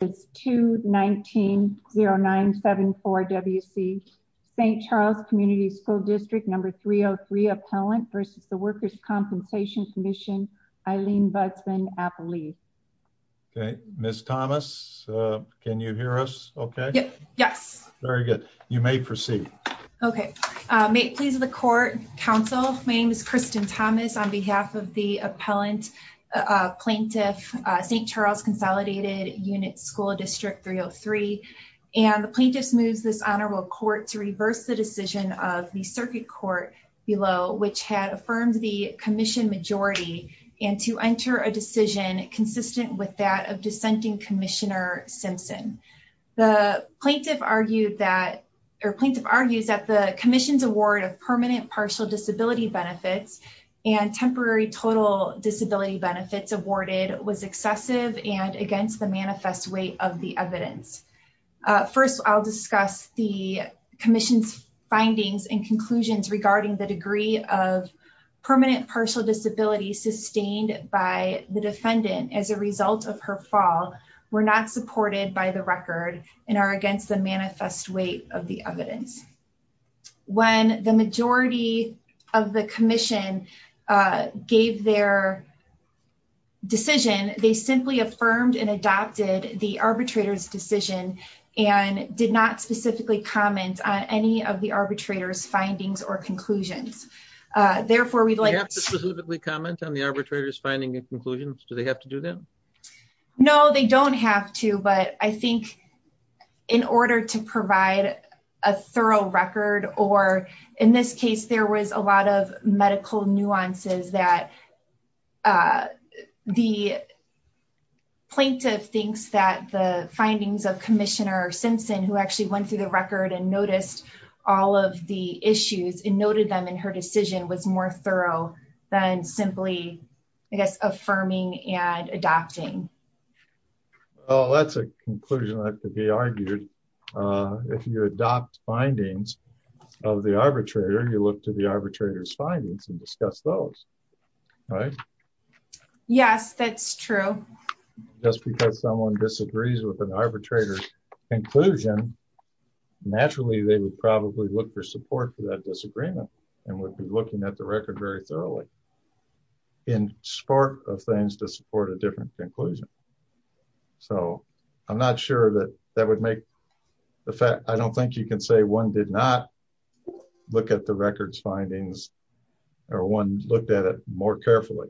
219-0974 W.C. St. Charles Community School District No. 303 Appellant v. The Workers' Compensation Commission Eileen Budsman-Appley. Okay, Ms. Thomas, can you hear us okay? Yes. Very good. You may proceed. Okay. May it please the Court, Counsel, my name is Kristen Thomas on behalf of the Appellant Plaintiff, St. Charles Consolidated Unit School District 303, and the Plaintiff's moves this Honorable Court to reverse the decision of the Circuit Court below, which had affirmed the Commission majority, and to enter a decision consistent with that of dissenting Commissioner Simpson. The Plaintiff argued that, or Plaintiff argues that the Commission's award of permanent partial benefits and temporary total disability benefits awarded was excessive and against the manifest weight of the evidence. First, I'll discuss the Commission's findings and conclusions regarding the degree of permanent partial disability sustained by the defendant as a result of her fall were not supported by the record and are against the manifest weight of the evidence. When the majority of the Commission gave their decision, they simply affirmed and adopted the arbitrator's decision and did not specifically comment on any of the arbitrator's findings or conclusions. Therefore, we'd like to specifically comment on the arbitrator's finding and conclusions. Do they have to do that? No, they don't have to. But I think in order to provide a thorough record, or in this case, there was a lot of medical nuances that the Plaintiff thinks that the findings of Commissioner Simpson, who actually went through the record and noticed all of the issues and noted them in her decision was more thorough than simply affirming and adopting. That's a conclusion that could be argued. If you adopt findings of the arbitrator, you look to the arbitrator's findings and discuss those. Yes, that's true. Just because someone disagrees with an arbitrator's conclusion, naturally, they would probably look for support for that disagreement and would be looking at the record very thoroughly in support of things to support a different conclusion. I don't think you can say one did not look at the record's findings or one looked at it more carefully.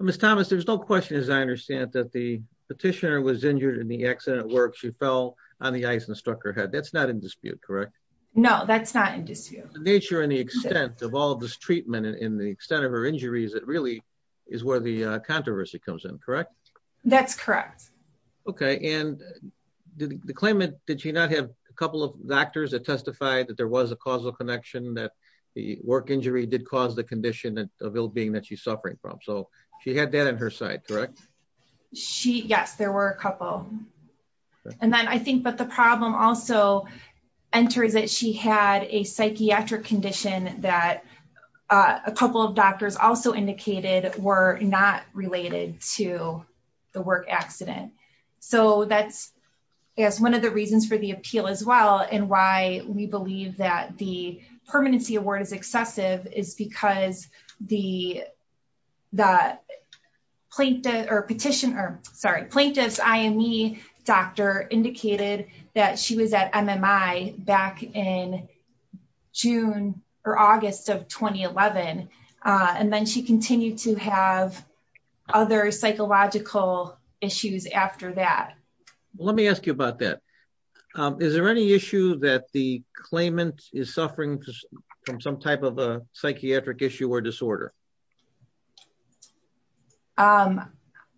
Ms. Thomas, there's no question as I understand that the petitioner was injured in the accident where she fell on the ice and struck her head. That's not in dispute, correct? No, that's not in dispute. The nature and the extent of all of this treatment and the extent of her injuries, it really is where the controversy comes in, correct? That's correct. Okay, and the claimant, did she not have a couple of doctors that testified that there was a causal connection that the work injury did cause the condition of ill-being that she's suffering from? So she had that on her side, correct? She, yes, there were a couple. And then I think that the problem also enters that she had a psychiatric condition that a couple of doctors also indicated were not related to the work accident. So that's, I guess, one of the reasons for the appeal as well and why we believe that the plaintiff's IME doctor indicated that she was at MMI back in June or August of 2011. And then she continued to have other psychological issues after that. Let me ask you about that. Is there any issue that the claimant is suffering from some type of a psychiatric issue or disorder?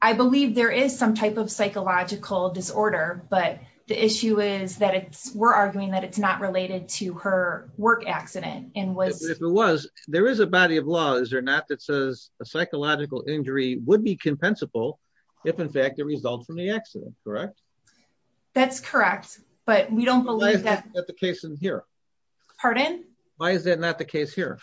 I believe there is some type of psychological disorder, but the issue is that it's, we're arguing that it's not related to her work accident and was... If it was, there is a body of law, is there not, that says a psychological injury would be compensable if in fact it results from the accident, correct? That's correct, but we don't believe that... Why is that not the case in here? Pardon? Why is that not the case here?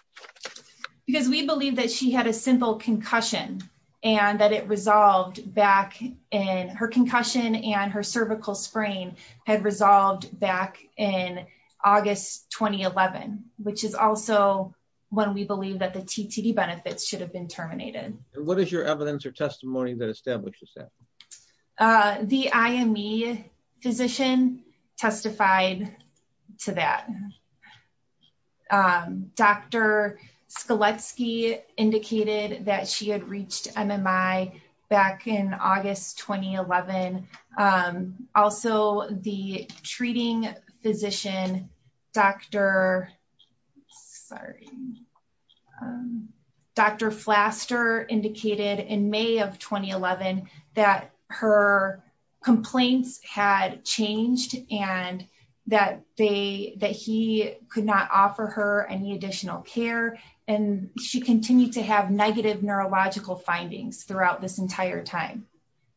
Because we believe that she had a simple concussion and that it resolved back in... Her concussion and her cervical sprain had resolved back in August 2011, which is also when we believe that the TTD benefits should have been terminated. What is your evidence or testimony that establishes that? The IME physician testified to that. Dr. Skletsky indicated that she had reached MMI back in August 2011. Also, the treating physician, Dr. Flaster indicated in May of 2011 that her complaints had changed and that he could not offer her any additional care. She continued to have negative neurological findings throughout this entire time.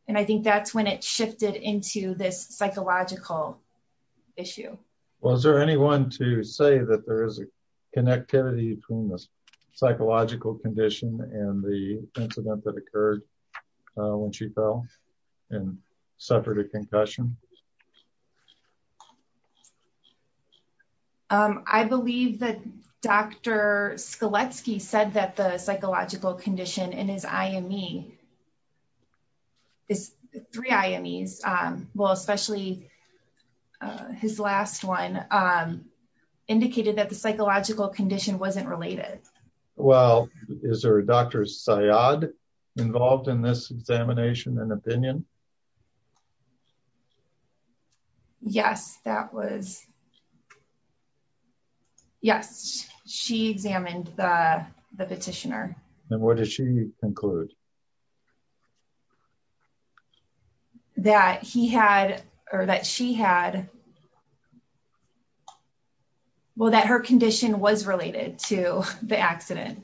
I think that's when it shifted into this psychological issue. Was there anyone to say that there is a connectivity between this psychological condition and the incident that occurred when she fell and suffered a concussion? I believe that Dr. Skletsky said that the psychological condition in his IME, his three IMEs, well, especially his last one, indicated that the psychological condition wasn't related. Well, is there a Dr. Syad involved in this examination and opinion? Yes, that was. Yes, she examined the petitioner. And what did she conclude? That he had, or that she had, well, that her condition was related to the accident.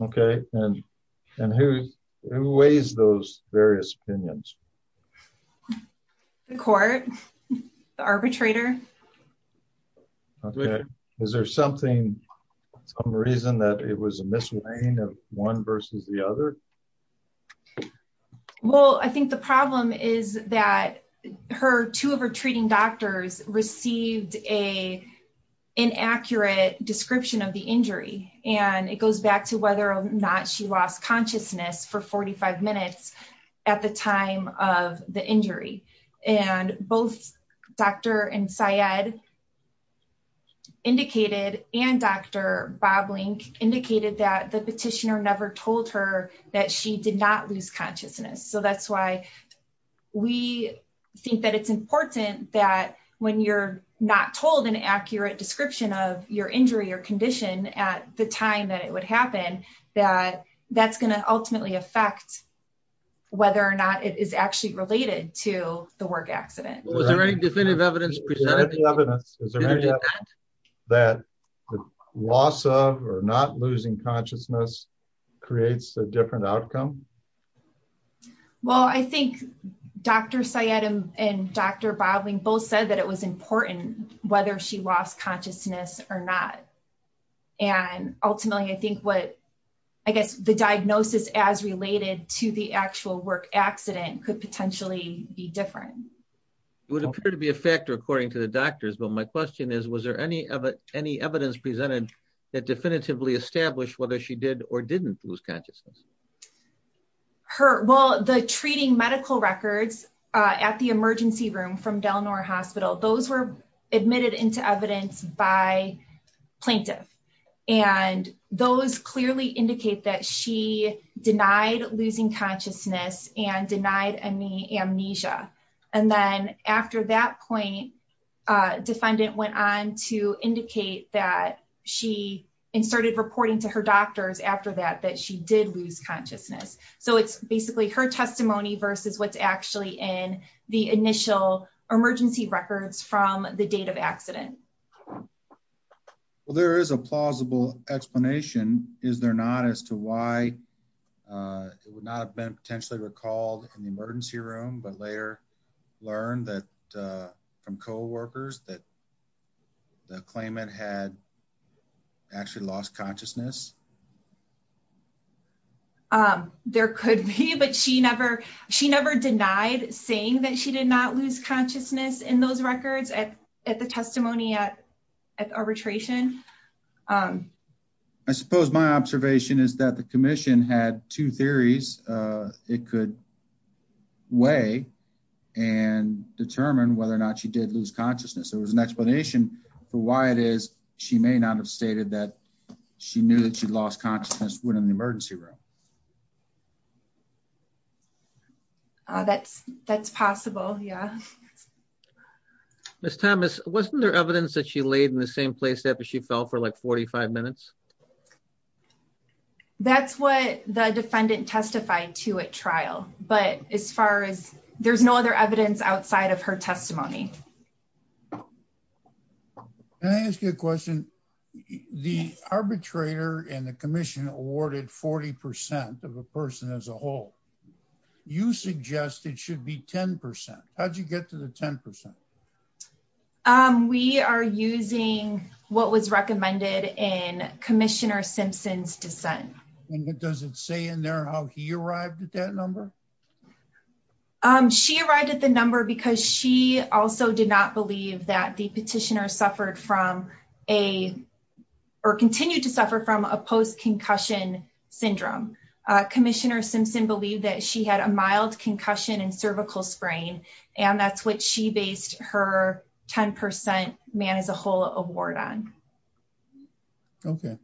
Okay, and who weighs those various opinions? The court, the arbitrator. Okay, is there something, some reason that it was a misalignment of one versus the other? Well, I think the problem is that her, two of her treating doctors received a inaccurate description of the injury. And it goes back to whether or not she lost consciousness for 45 minutes at the time of the injury. And both Dr. and Syad indicated, and Dr. Boblink indicated that the petitioner never told her that she did not lose consciousness. So that's why we think that it's important that when you're not told an accurate description of your injury or condition at the time that it would happen, that that's going to ultimately affect whether or not it is actually related to the work accident. Was there any definitive evidence presented? Is there any evidence that the loss of or not losing consciousness creates a different outcome? Well, I think Dr. Syad and Dr. Boblink both said that it was important whether she lost consciousness or not. And ultimately, I think what, I guess the diagnosis as related to the actual work accident could potentially be different. It would appear to be a factor according to the doctors. But my question is, was there any evidence presented that definitively established whether she did or didn't lose consciousness? Well, the treating medical records at the emergency room from Del Nor Hospital, those were admitted into evidence by plaintiff. And those clearly indicate that she denied losing consciousness and denied any amnesia. And then after that point, defendant went on to indicate that she inserted reporting to her doctors after that, that she did lose consciousness. So it's basically her testimony versus what's actually in the initial emergency records from the date of accident. Well, there is a plausible explanation, is there not, as to why it would not have been potentially recalled in the emergency room, but later learned that from coworkers that the claimant had actually lost consciousness? There could be, but she never denied saying that she did not lose consciousness in those records at the testimony at arbitration. Um, I suppose my observation is that the commission had two theories. Uh, it could weigh and determine whether or not she did lose consciousness. There was an explanation for why it is she may not have stated that she knew that she lost consciousness when in the emergency room. That's, that's possible. Yeah. Yes. Ms. Thomas, wasn't there evidence that she laid in the same place that she fell for like 45 minutes? That's what the defendant testified to at trial. But as far as there's no other evidence outside of her testimony. Can I ask you a question? The arbitrator and the commission awarded 40% of a person as a whole. You suggest it should be 10%. How'd you get to the 10%? Um, we are using what was recommended in commissioner Simpson's descent. And what does it say in there, how he arrived at that number? Um, she arrived at the number because she also did not believe that the petitioner suffered from a, or continued to suffer from a post concussion syndrome. Commissioner Simpson believed that she had a mild concussion and cervical sprain, and that's what she based her 10% man as a whole award on. Okay.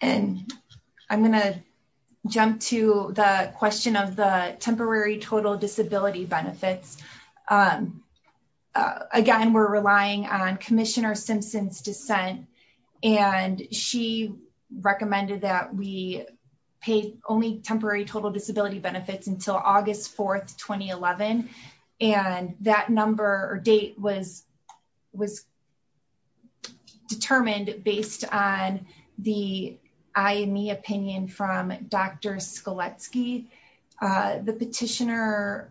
And I'm going to jump to the question of the temporary total disability benefits. Um, uh, again, we're relying on commissioner Simpson's descent and she recommended that we pay only temporary total disability benefits until August 4th, 2011. And that number or date was, was determined based on the IME opinion from Dr. Uh, the petitioner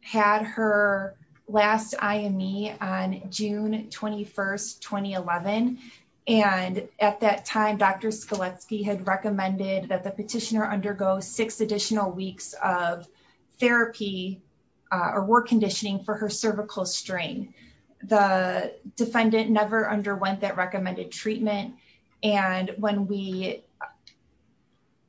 had her last IME on June 21st, 2011. And at that time, Dr. Skoletsky had recommended that the petitioner undergo six additional weeks of therapy or work conditioning for her cervical strain. The defendant never underwent that recommended treatment. And when we,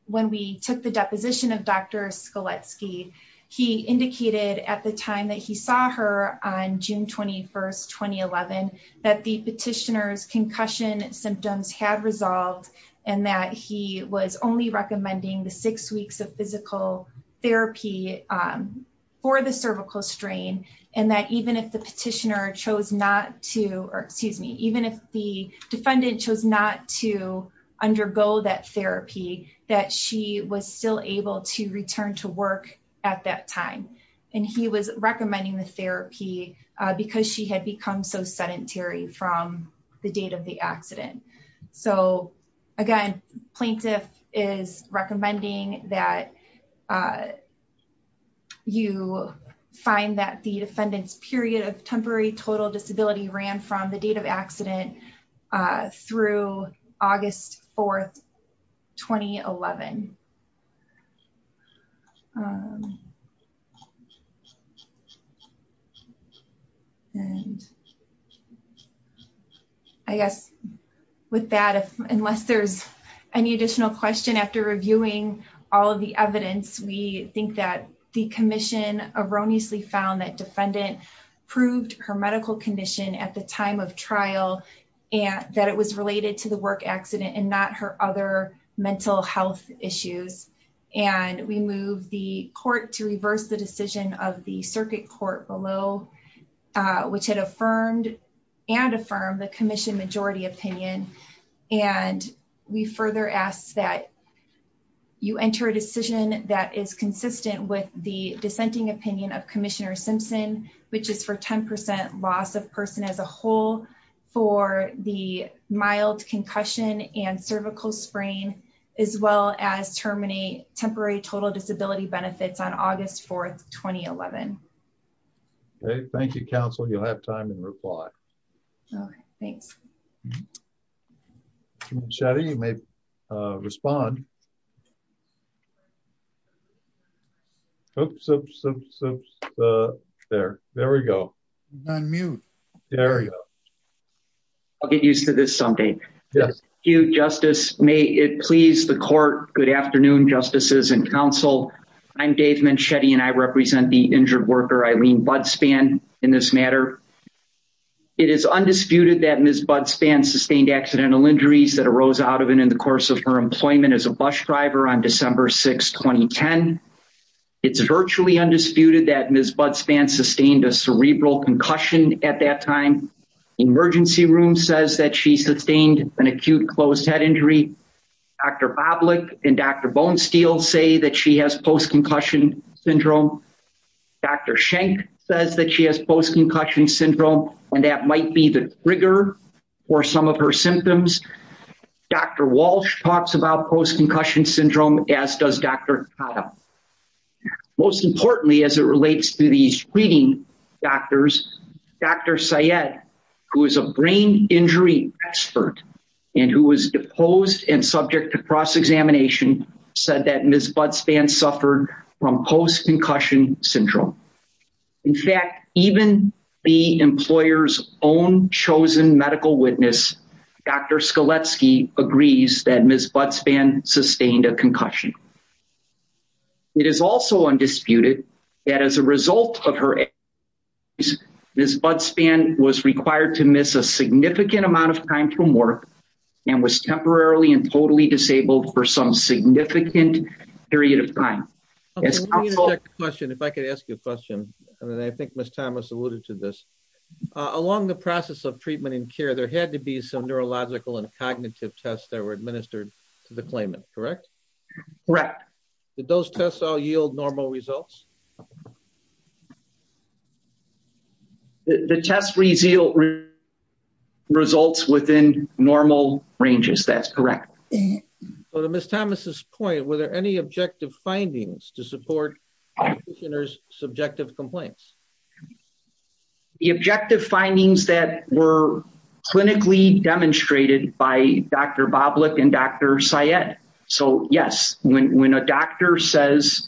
when we took the deposition of Dr. Skoletsky, he indicated at the time that he saw her on June 21st, 2011, that the petitioner's concussion symptoms had resolved and that he was only recommending the six weeks of physical therapy, um, for the cervical strain. And that even if the petitioner chose not to, or excuse me, even if the defendant chose not to undergo that therapy, that she was still able to return to work at that time. And he was recommending the therapy, uh, because she had become so sedentary from the date of the accident. So again, plaintiff is recommending that, uh, you find that the defendant's period of And I guess with that, unless there's any additional question after reviewing all of the evidence, we think that the commission erroneously found that defendant proved her work accident and not her other mental health issues. And we moved the court to reverse the decision of the circuit court below, uh, which had affirmed and affirm the commission majority opinion. And we further ask that you enter a decision that is consistent with the dissenting opinion of commissioner Simpson, which is for 10% loss of person as a whole for the mild concussion and cervical sprain, as well as terminate temporary total disability benefits on August 4th, 2011. Okay. Thank you. Counsel. You'll have time and reply. Okay. Thanks. Shaddy. You may, uh, respond. Oops. Oops. Oops. Oops. Uh, there, there we go. Unmute area. I'll get used to this someday. You justice. May it please the court. Good afternoon. Justices and counsel. I'm Dave Manchetti and I represent the injured worker. Eileen Budspan in this matter. It is undisputed that Ms. Budspan sustained accidental injuries that arose out of it in the course of her employment as a bus driver on December 6th, 2010. It's virtually undisputed that Ms. Budspan sustained a cerebral concussion at that time. Emergency room says that she sustained an acute closed head injury. Dr. Boblic and Dr. Bonesteel say that she has post-concussion syndrome. Dr. Shank says that she has post-concussion syndrome and that might be the trigger for some of her symptoms. Dr. Walsh talks about post-concussion syndrome as does Dr. Kata. Most importantly, as it relates to these treating doctors, Dr. Walsh, who is a brain injury expert and who was deposed and subject to cross-examination said that Ms. Budspan suffered from post-concussion syndrome. In fact, even the employer's own chosen medical witness, Dr. Skaletsky agrees that Ms. Budspan sustained a concussion. It is also undisputed that as a result of her case, Ms. Budspan was required to miss a significant amount of time from work and was temporarily and totally disabled for some significant period of time. Let me interject a question, if I could ask you a question, and I think Ms. Thomas alluded to this. Along the process of treatment and care, there had to be some neurological and cognitive tests that were administered to the claimant, correct? Correct. Did those tests all yield normal results? The test results within normal ranges. That's correct. So to Ms. Thomas's point, were there any objective findings to support the practitioner's subjective complaints? The objective findings that were clinically demonstrated by Dr. Boblik and Dr. Syed. So yes, when a doctor says,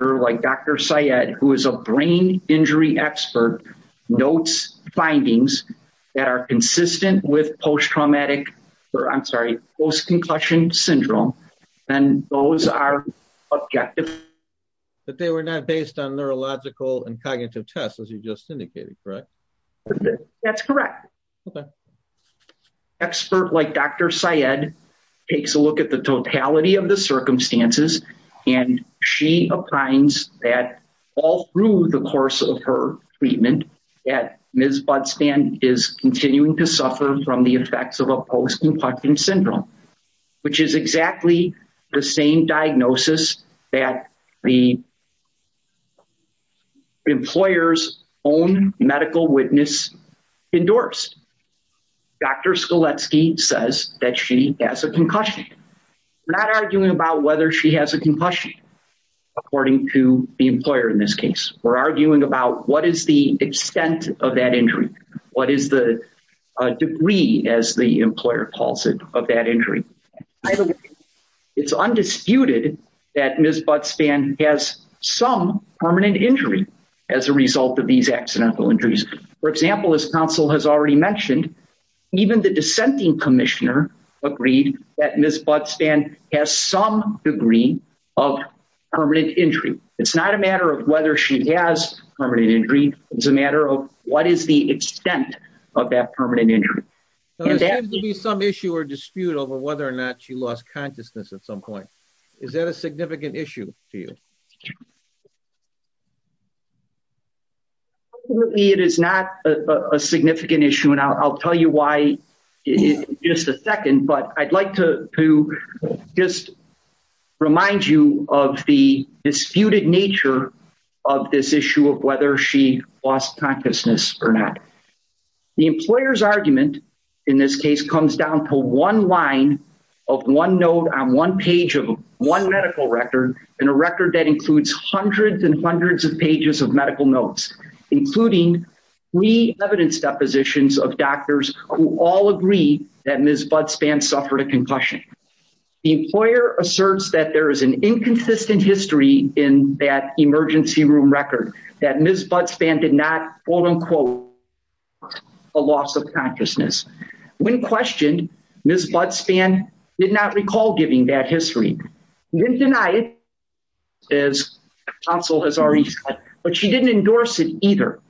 or like Dr. Syed, who is a brain injury expert, notes findings that are consistent with post-traumatic, or I'm sorry, post-concussion syndrome, then those are objective. But they were not based on neurological and cognitive tests, as you just indicated, correct? That's correct. Okay. Experts like Dr. Syed takes a look at the totality of the circumstances, and she finds that all through the course of her treatment, that Ms. Budsman is continuing to suffer from the effects of a post-concussion syndrome, which is exactly the same diagnosis that the employer's own medical witness endorsed. Dr. Skoletsky says that she has a concussion. We're not arguing about whether she has a concussion, according to the employer in this case. We're arguing about what is the extent of that injury? What is the degree, as the employer calls it, of that injury? Either way, it's undisputed that Ms. Budsman has some permanent injury as a result of these accidental injuries. For example, as counsel has already mentioned, even the dissenting commissioner agreed that Ms. Budsman has some degree of permanent injury. It's not a matter of whether she has permanent injury, it's a matter of what is the extent of that permanent injury. There seems to be some issue or dispute over whether or not she lost consciousness at some point. Is that a significant issue to you? It is not a significant issue, and I'll tell you why in just a second. But I'd like to just remind you of the disputed nature of this issue of whether she lost consciousness or not. The employer's argument in this case comes down to one line of one note on one page of one medical record, and a record that includes hundreds and hundreds of pages of medical notes, including pre-evidence depositions of doctors who all agree that Ms. Budsman suffered a concussion. The employer asserts that there is an inconsistent history in that emergency room record, that Ms. Budsman did not, quote unquote, a loss of consciousness. When questioned, Ms. Budsman did not recall giving that history. She didn't deny it, as counsel has already said, but she didn't endorse it either.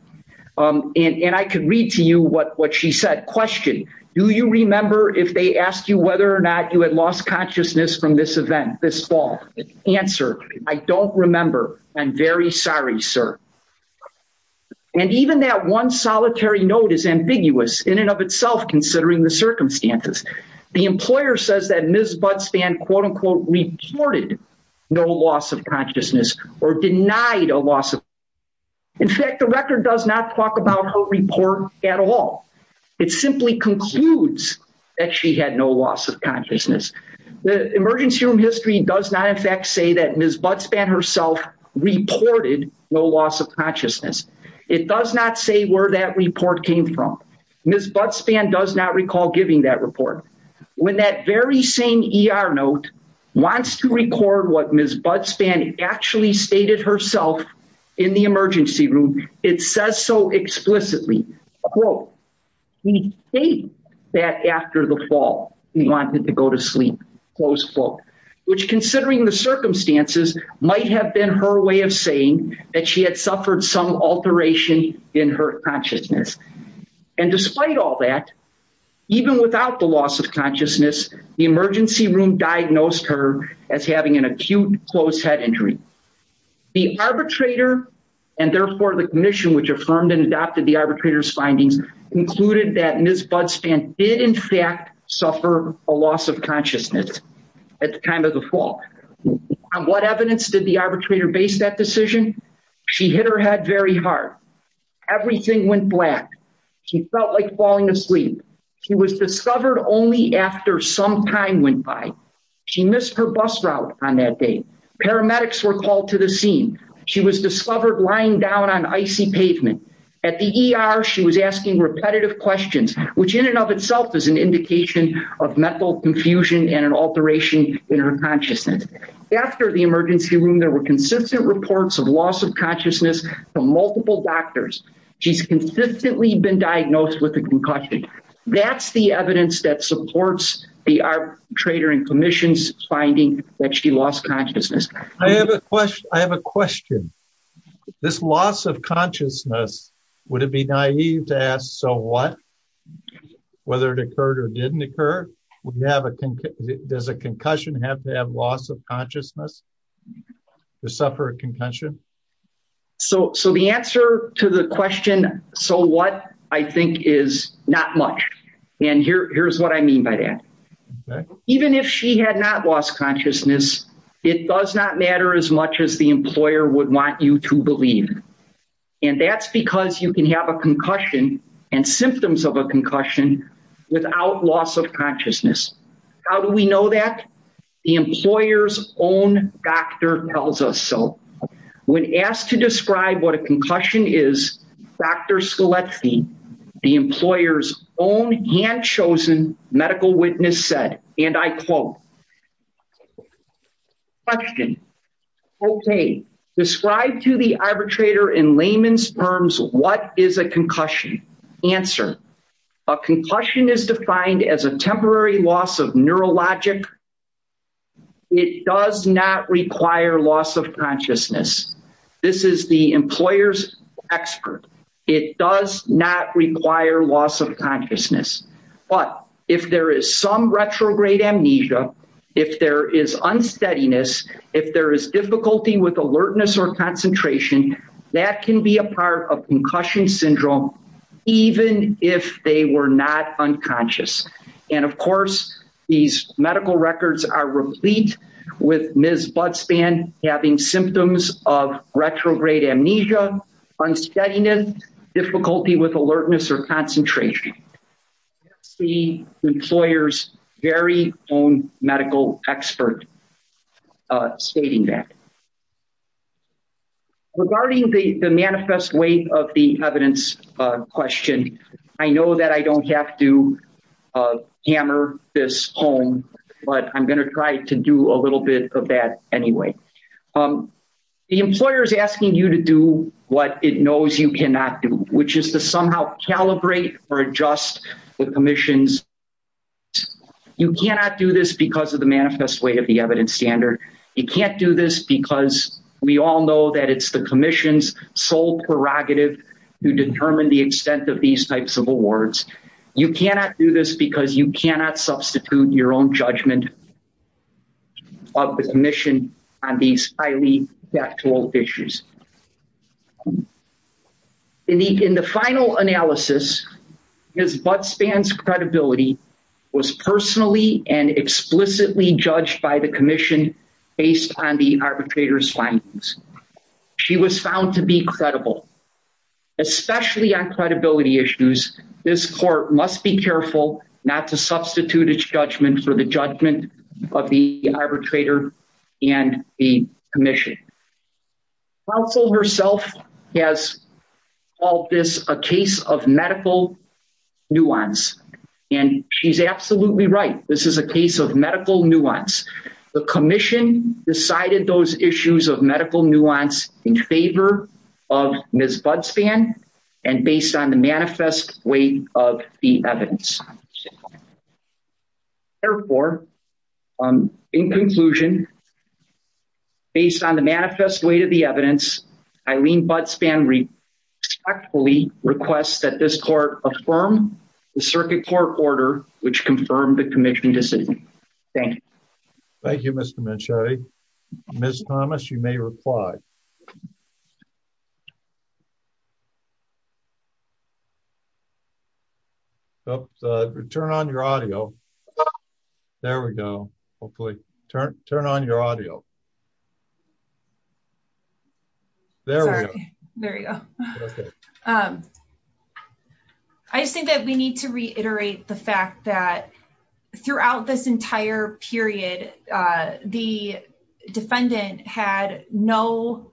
And I could read to you what she said. Question, do you remember if they asked you whether or not you had lost consciousness from this event this fall? Answer, I don't remember. I'm very sorry, sir. And even that one solitary note is ambiguous in and of itself, considering the circumstances. The employer says that Ms. Budsman, quote unquote, reported no loss of consciousness or denied a loss of consciousness. In fact, the record does not talk about her report at all. It simply concludes that she had no loss of consciousness. The emergency room history does not, in fact, say that Ms. Budsman did not have a loss of consciousness. It does not say where that report came from. Ms. Budsman does not recall giving that report. When that very same ER note wants to record what Ms. Budsman actually stated herself in the emergency room, it says so explicitly, quote, we state that after the fall, we wanted to go to sleep, close quote, which considering the circumstances might have been her way of saying that she had suffered some alteration in her consciousness. And despite all that, even without the loss of consciousness, the emergency room diagnosed her as having an acute closed head injury. The arbitrator and therefore the commission, which affirmed and adopted the arbitrator's findings, concluded that Ms. Budsman did, in fact, suffer a loss of consciousness at the time of the fall. On what evidence did the arbitrator base that decision? She hit her head very hard. Everything went black. She felt like falling asleep. She was discovered only after some time went by. She missed her bus route on that day. Paramedics were called to the scene. She was discovered lying down on icy pavement. At the ER, she was asking repetitive questions, which in and of itself is an indication of mental confusion and an alteration in her consciousness. After the emergency room, there were consistent reports of loss of consciousness from multiple doctors. She's consistently been diagnosed with a concussion. That's the evidence that supports the arbitrator and commission's finding that she lost consciousness. I have a question. This loss of consciousness, would it be naive to ask, so what? Whether it occurred or didn't occur? Does a concussion have to have loss of consciousness to suffer a concussion? So the answer to the question, so what, I think is not much. And here's what I mean by that. Even if she had not lost consciousness, it does not matter as much as the employer would want you to believe. And that's because you can have a concussion and symptoms of a concussion without loss of consciousness. How do we know that? The employer's own doctor tells us so. When asked to describe what a concussion is, Dr. Scheletzi, the employer's own hand chosen medical witness said, and I quote, Question, okay, describe to the arbitrator in layman's terms, what is a concussion? Answer, a concussion is defined as a temporary loss of neurologic. It does not require loss of consciousness. This is the employer's expert. It does not require loss of consciousness. But if there is some retrograde amnesia, if there is unsteadiness, if there is difficulty with alertness or concentration, that can be a part of concussion syndrome, even if they were not unconscious. And of course, these medical records are replete with Ms. Budspan having symptoms of retrograde amnesia, unsteadiness, difficulty with alertness or concentration. That's the employer's very own medical expert stating that. Regarding the manifest weight of the evidence question, I know that I don't have to hammer this home, but I'm going to try to do a little bit of that anyway. The employer is asking you to do what it knows you cannot do, which is to somehow calibrate or adjust the commission's. You cannot do this because of the manifest weight of the evidence standard. You can't do this because we all know that it's the commission's sole prerogative to determine the extent of these types of awards. You cannot do this because you cannot substitute your own judgment of the commission on these highly factual issues. In the final analysis, Ms. Budspan's credibility was personally and explicitly judged by the commission based on the arbitrator's findings. She was found to be credible, especially on credibility issues. This court must be careful not to substitute its judgment for the judgment of the arbitrator and the commission. The counsel herself has called this a case of medical nuance, and she's absolutely right. This is a case of medical nuance. The commission decided those issues of medical nuance in favor of Ms. Budspan and based on the manifest weight of the evidence. Therefore, in conclusion, based on the manifest weight of the evidence, Eileen Budspan respectfully requests that this court affirm the circuit court order, which confirmed the commission decision. Thank you, Mr. Minchetti. Ms. Thomas, you may reply. Turn on your audio. There we go. Hopefully. Turn on your audio. There we go. I just think that we need to reiterate the fact that throughout this entire period, the defendant had no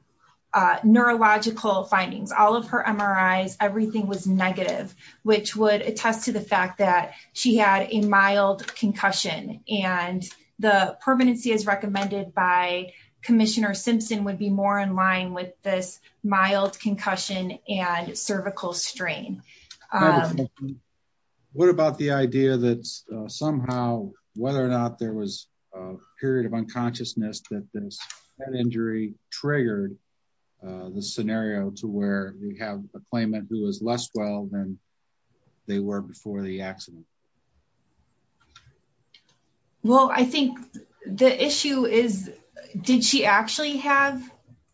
neurological findings. All of her MRIs, everything was negative, which would attest to the fact that she had a mild concussion and the permanency as recommended by Commissioner Simpson would be more in line with this mild concussion and cervical strain. What about the idea that somehow, whether or not there was a period of unconsciousness that this injury triggered the scenario to where we have a claimant who is less well than they were before the accident? Well, I think the issue is, did she actually have,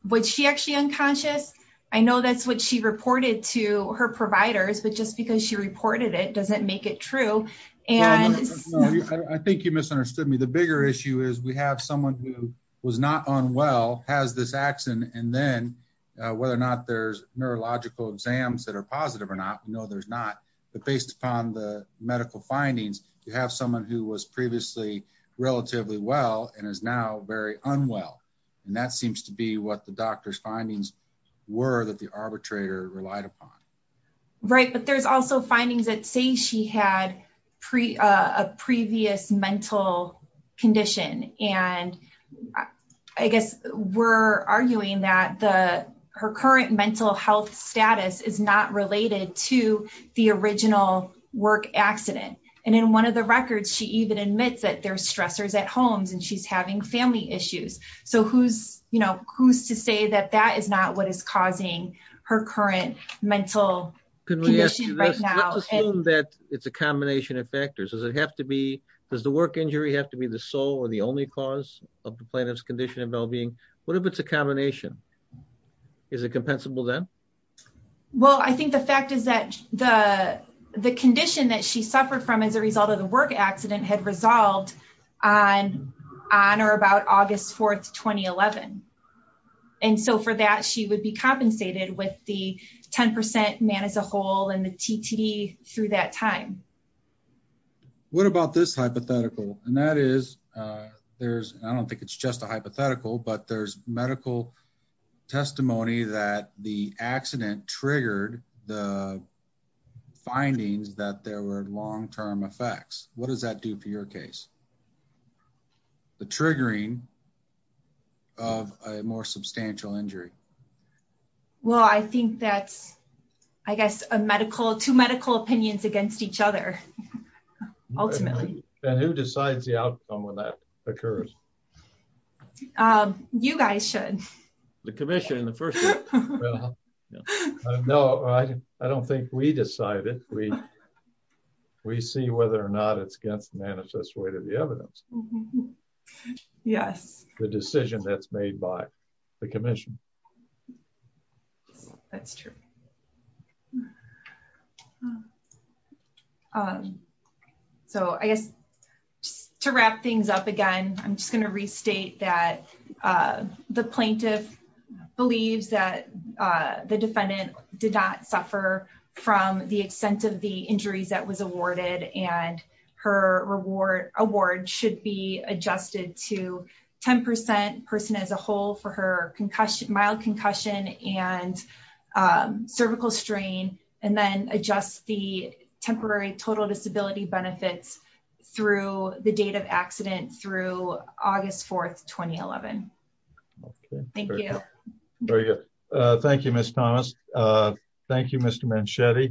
was she actually unconscious? I know that's what she reported to her providers, but just because she reported it doesn't make it true. I think you misunderstood me. The bigger issue is we have someone who was not unwell, has this accident, and then whether or not there's neurological exams that are positive or not, we know there's not, but based upon the medical findings, you have someone who was previously relatively well and is now very unwell. And that seems to be what the doctor's findings were that the arbitrator relied upon. Right. But there's also findings that say she had a previous mental condition. And I guess we're arguing that her current mental health status is not related to the original work accident. And in one of the records, she even admits that there's stressors at homes and she's having family issues. So who's to say that that is not what is causing her current mental condition right now? Can we ask you this, let's assume that it's a combination of factors. Does the work injury have to be the sole or the only cause of the plaintiff's condition and well-being? What if it's a combination? Is it compensable then? Well, I think the fact is that the condition that she suffered from as a result of the 2011. And so for that, she would be compensated with the 10% man as a whole and the TTD through that time. What about this hypothetical? And that is, there's, I don't think it's just a hypothetical, but there's medical testimony that the accident triggered the findings that there were long-term effects. What does that do for your case? The triggering of a more substantial injury. Well, I think that's, I guess, a medical, two medical opinions against each other. Ultimately. And who decides the outcome when that occurs? You guys should. The commission in the first. No, I don't think we decided we, we see whether or not it's against the manifest way to the evidence. Yes. The decision that's made by the commission. That's true. So I guess to wrap things up again, I'm just going to restate that the plaintiff believes that the defendant did not suffer from the extent of the injuries that was awarded and her reward award should be adjusted to 10% person as a whole for her concussion, mild concussion and cervical strain, and then adjust the temporary total disability benefits through the date of accident through August 4th, 2011. Thank you. Thank you, Ms. Thomas. Thank you, Mr. Manchetti.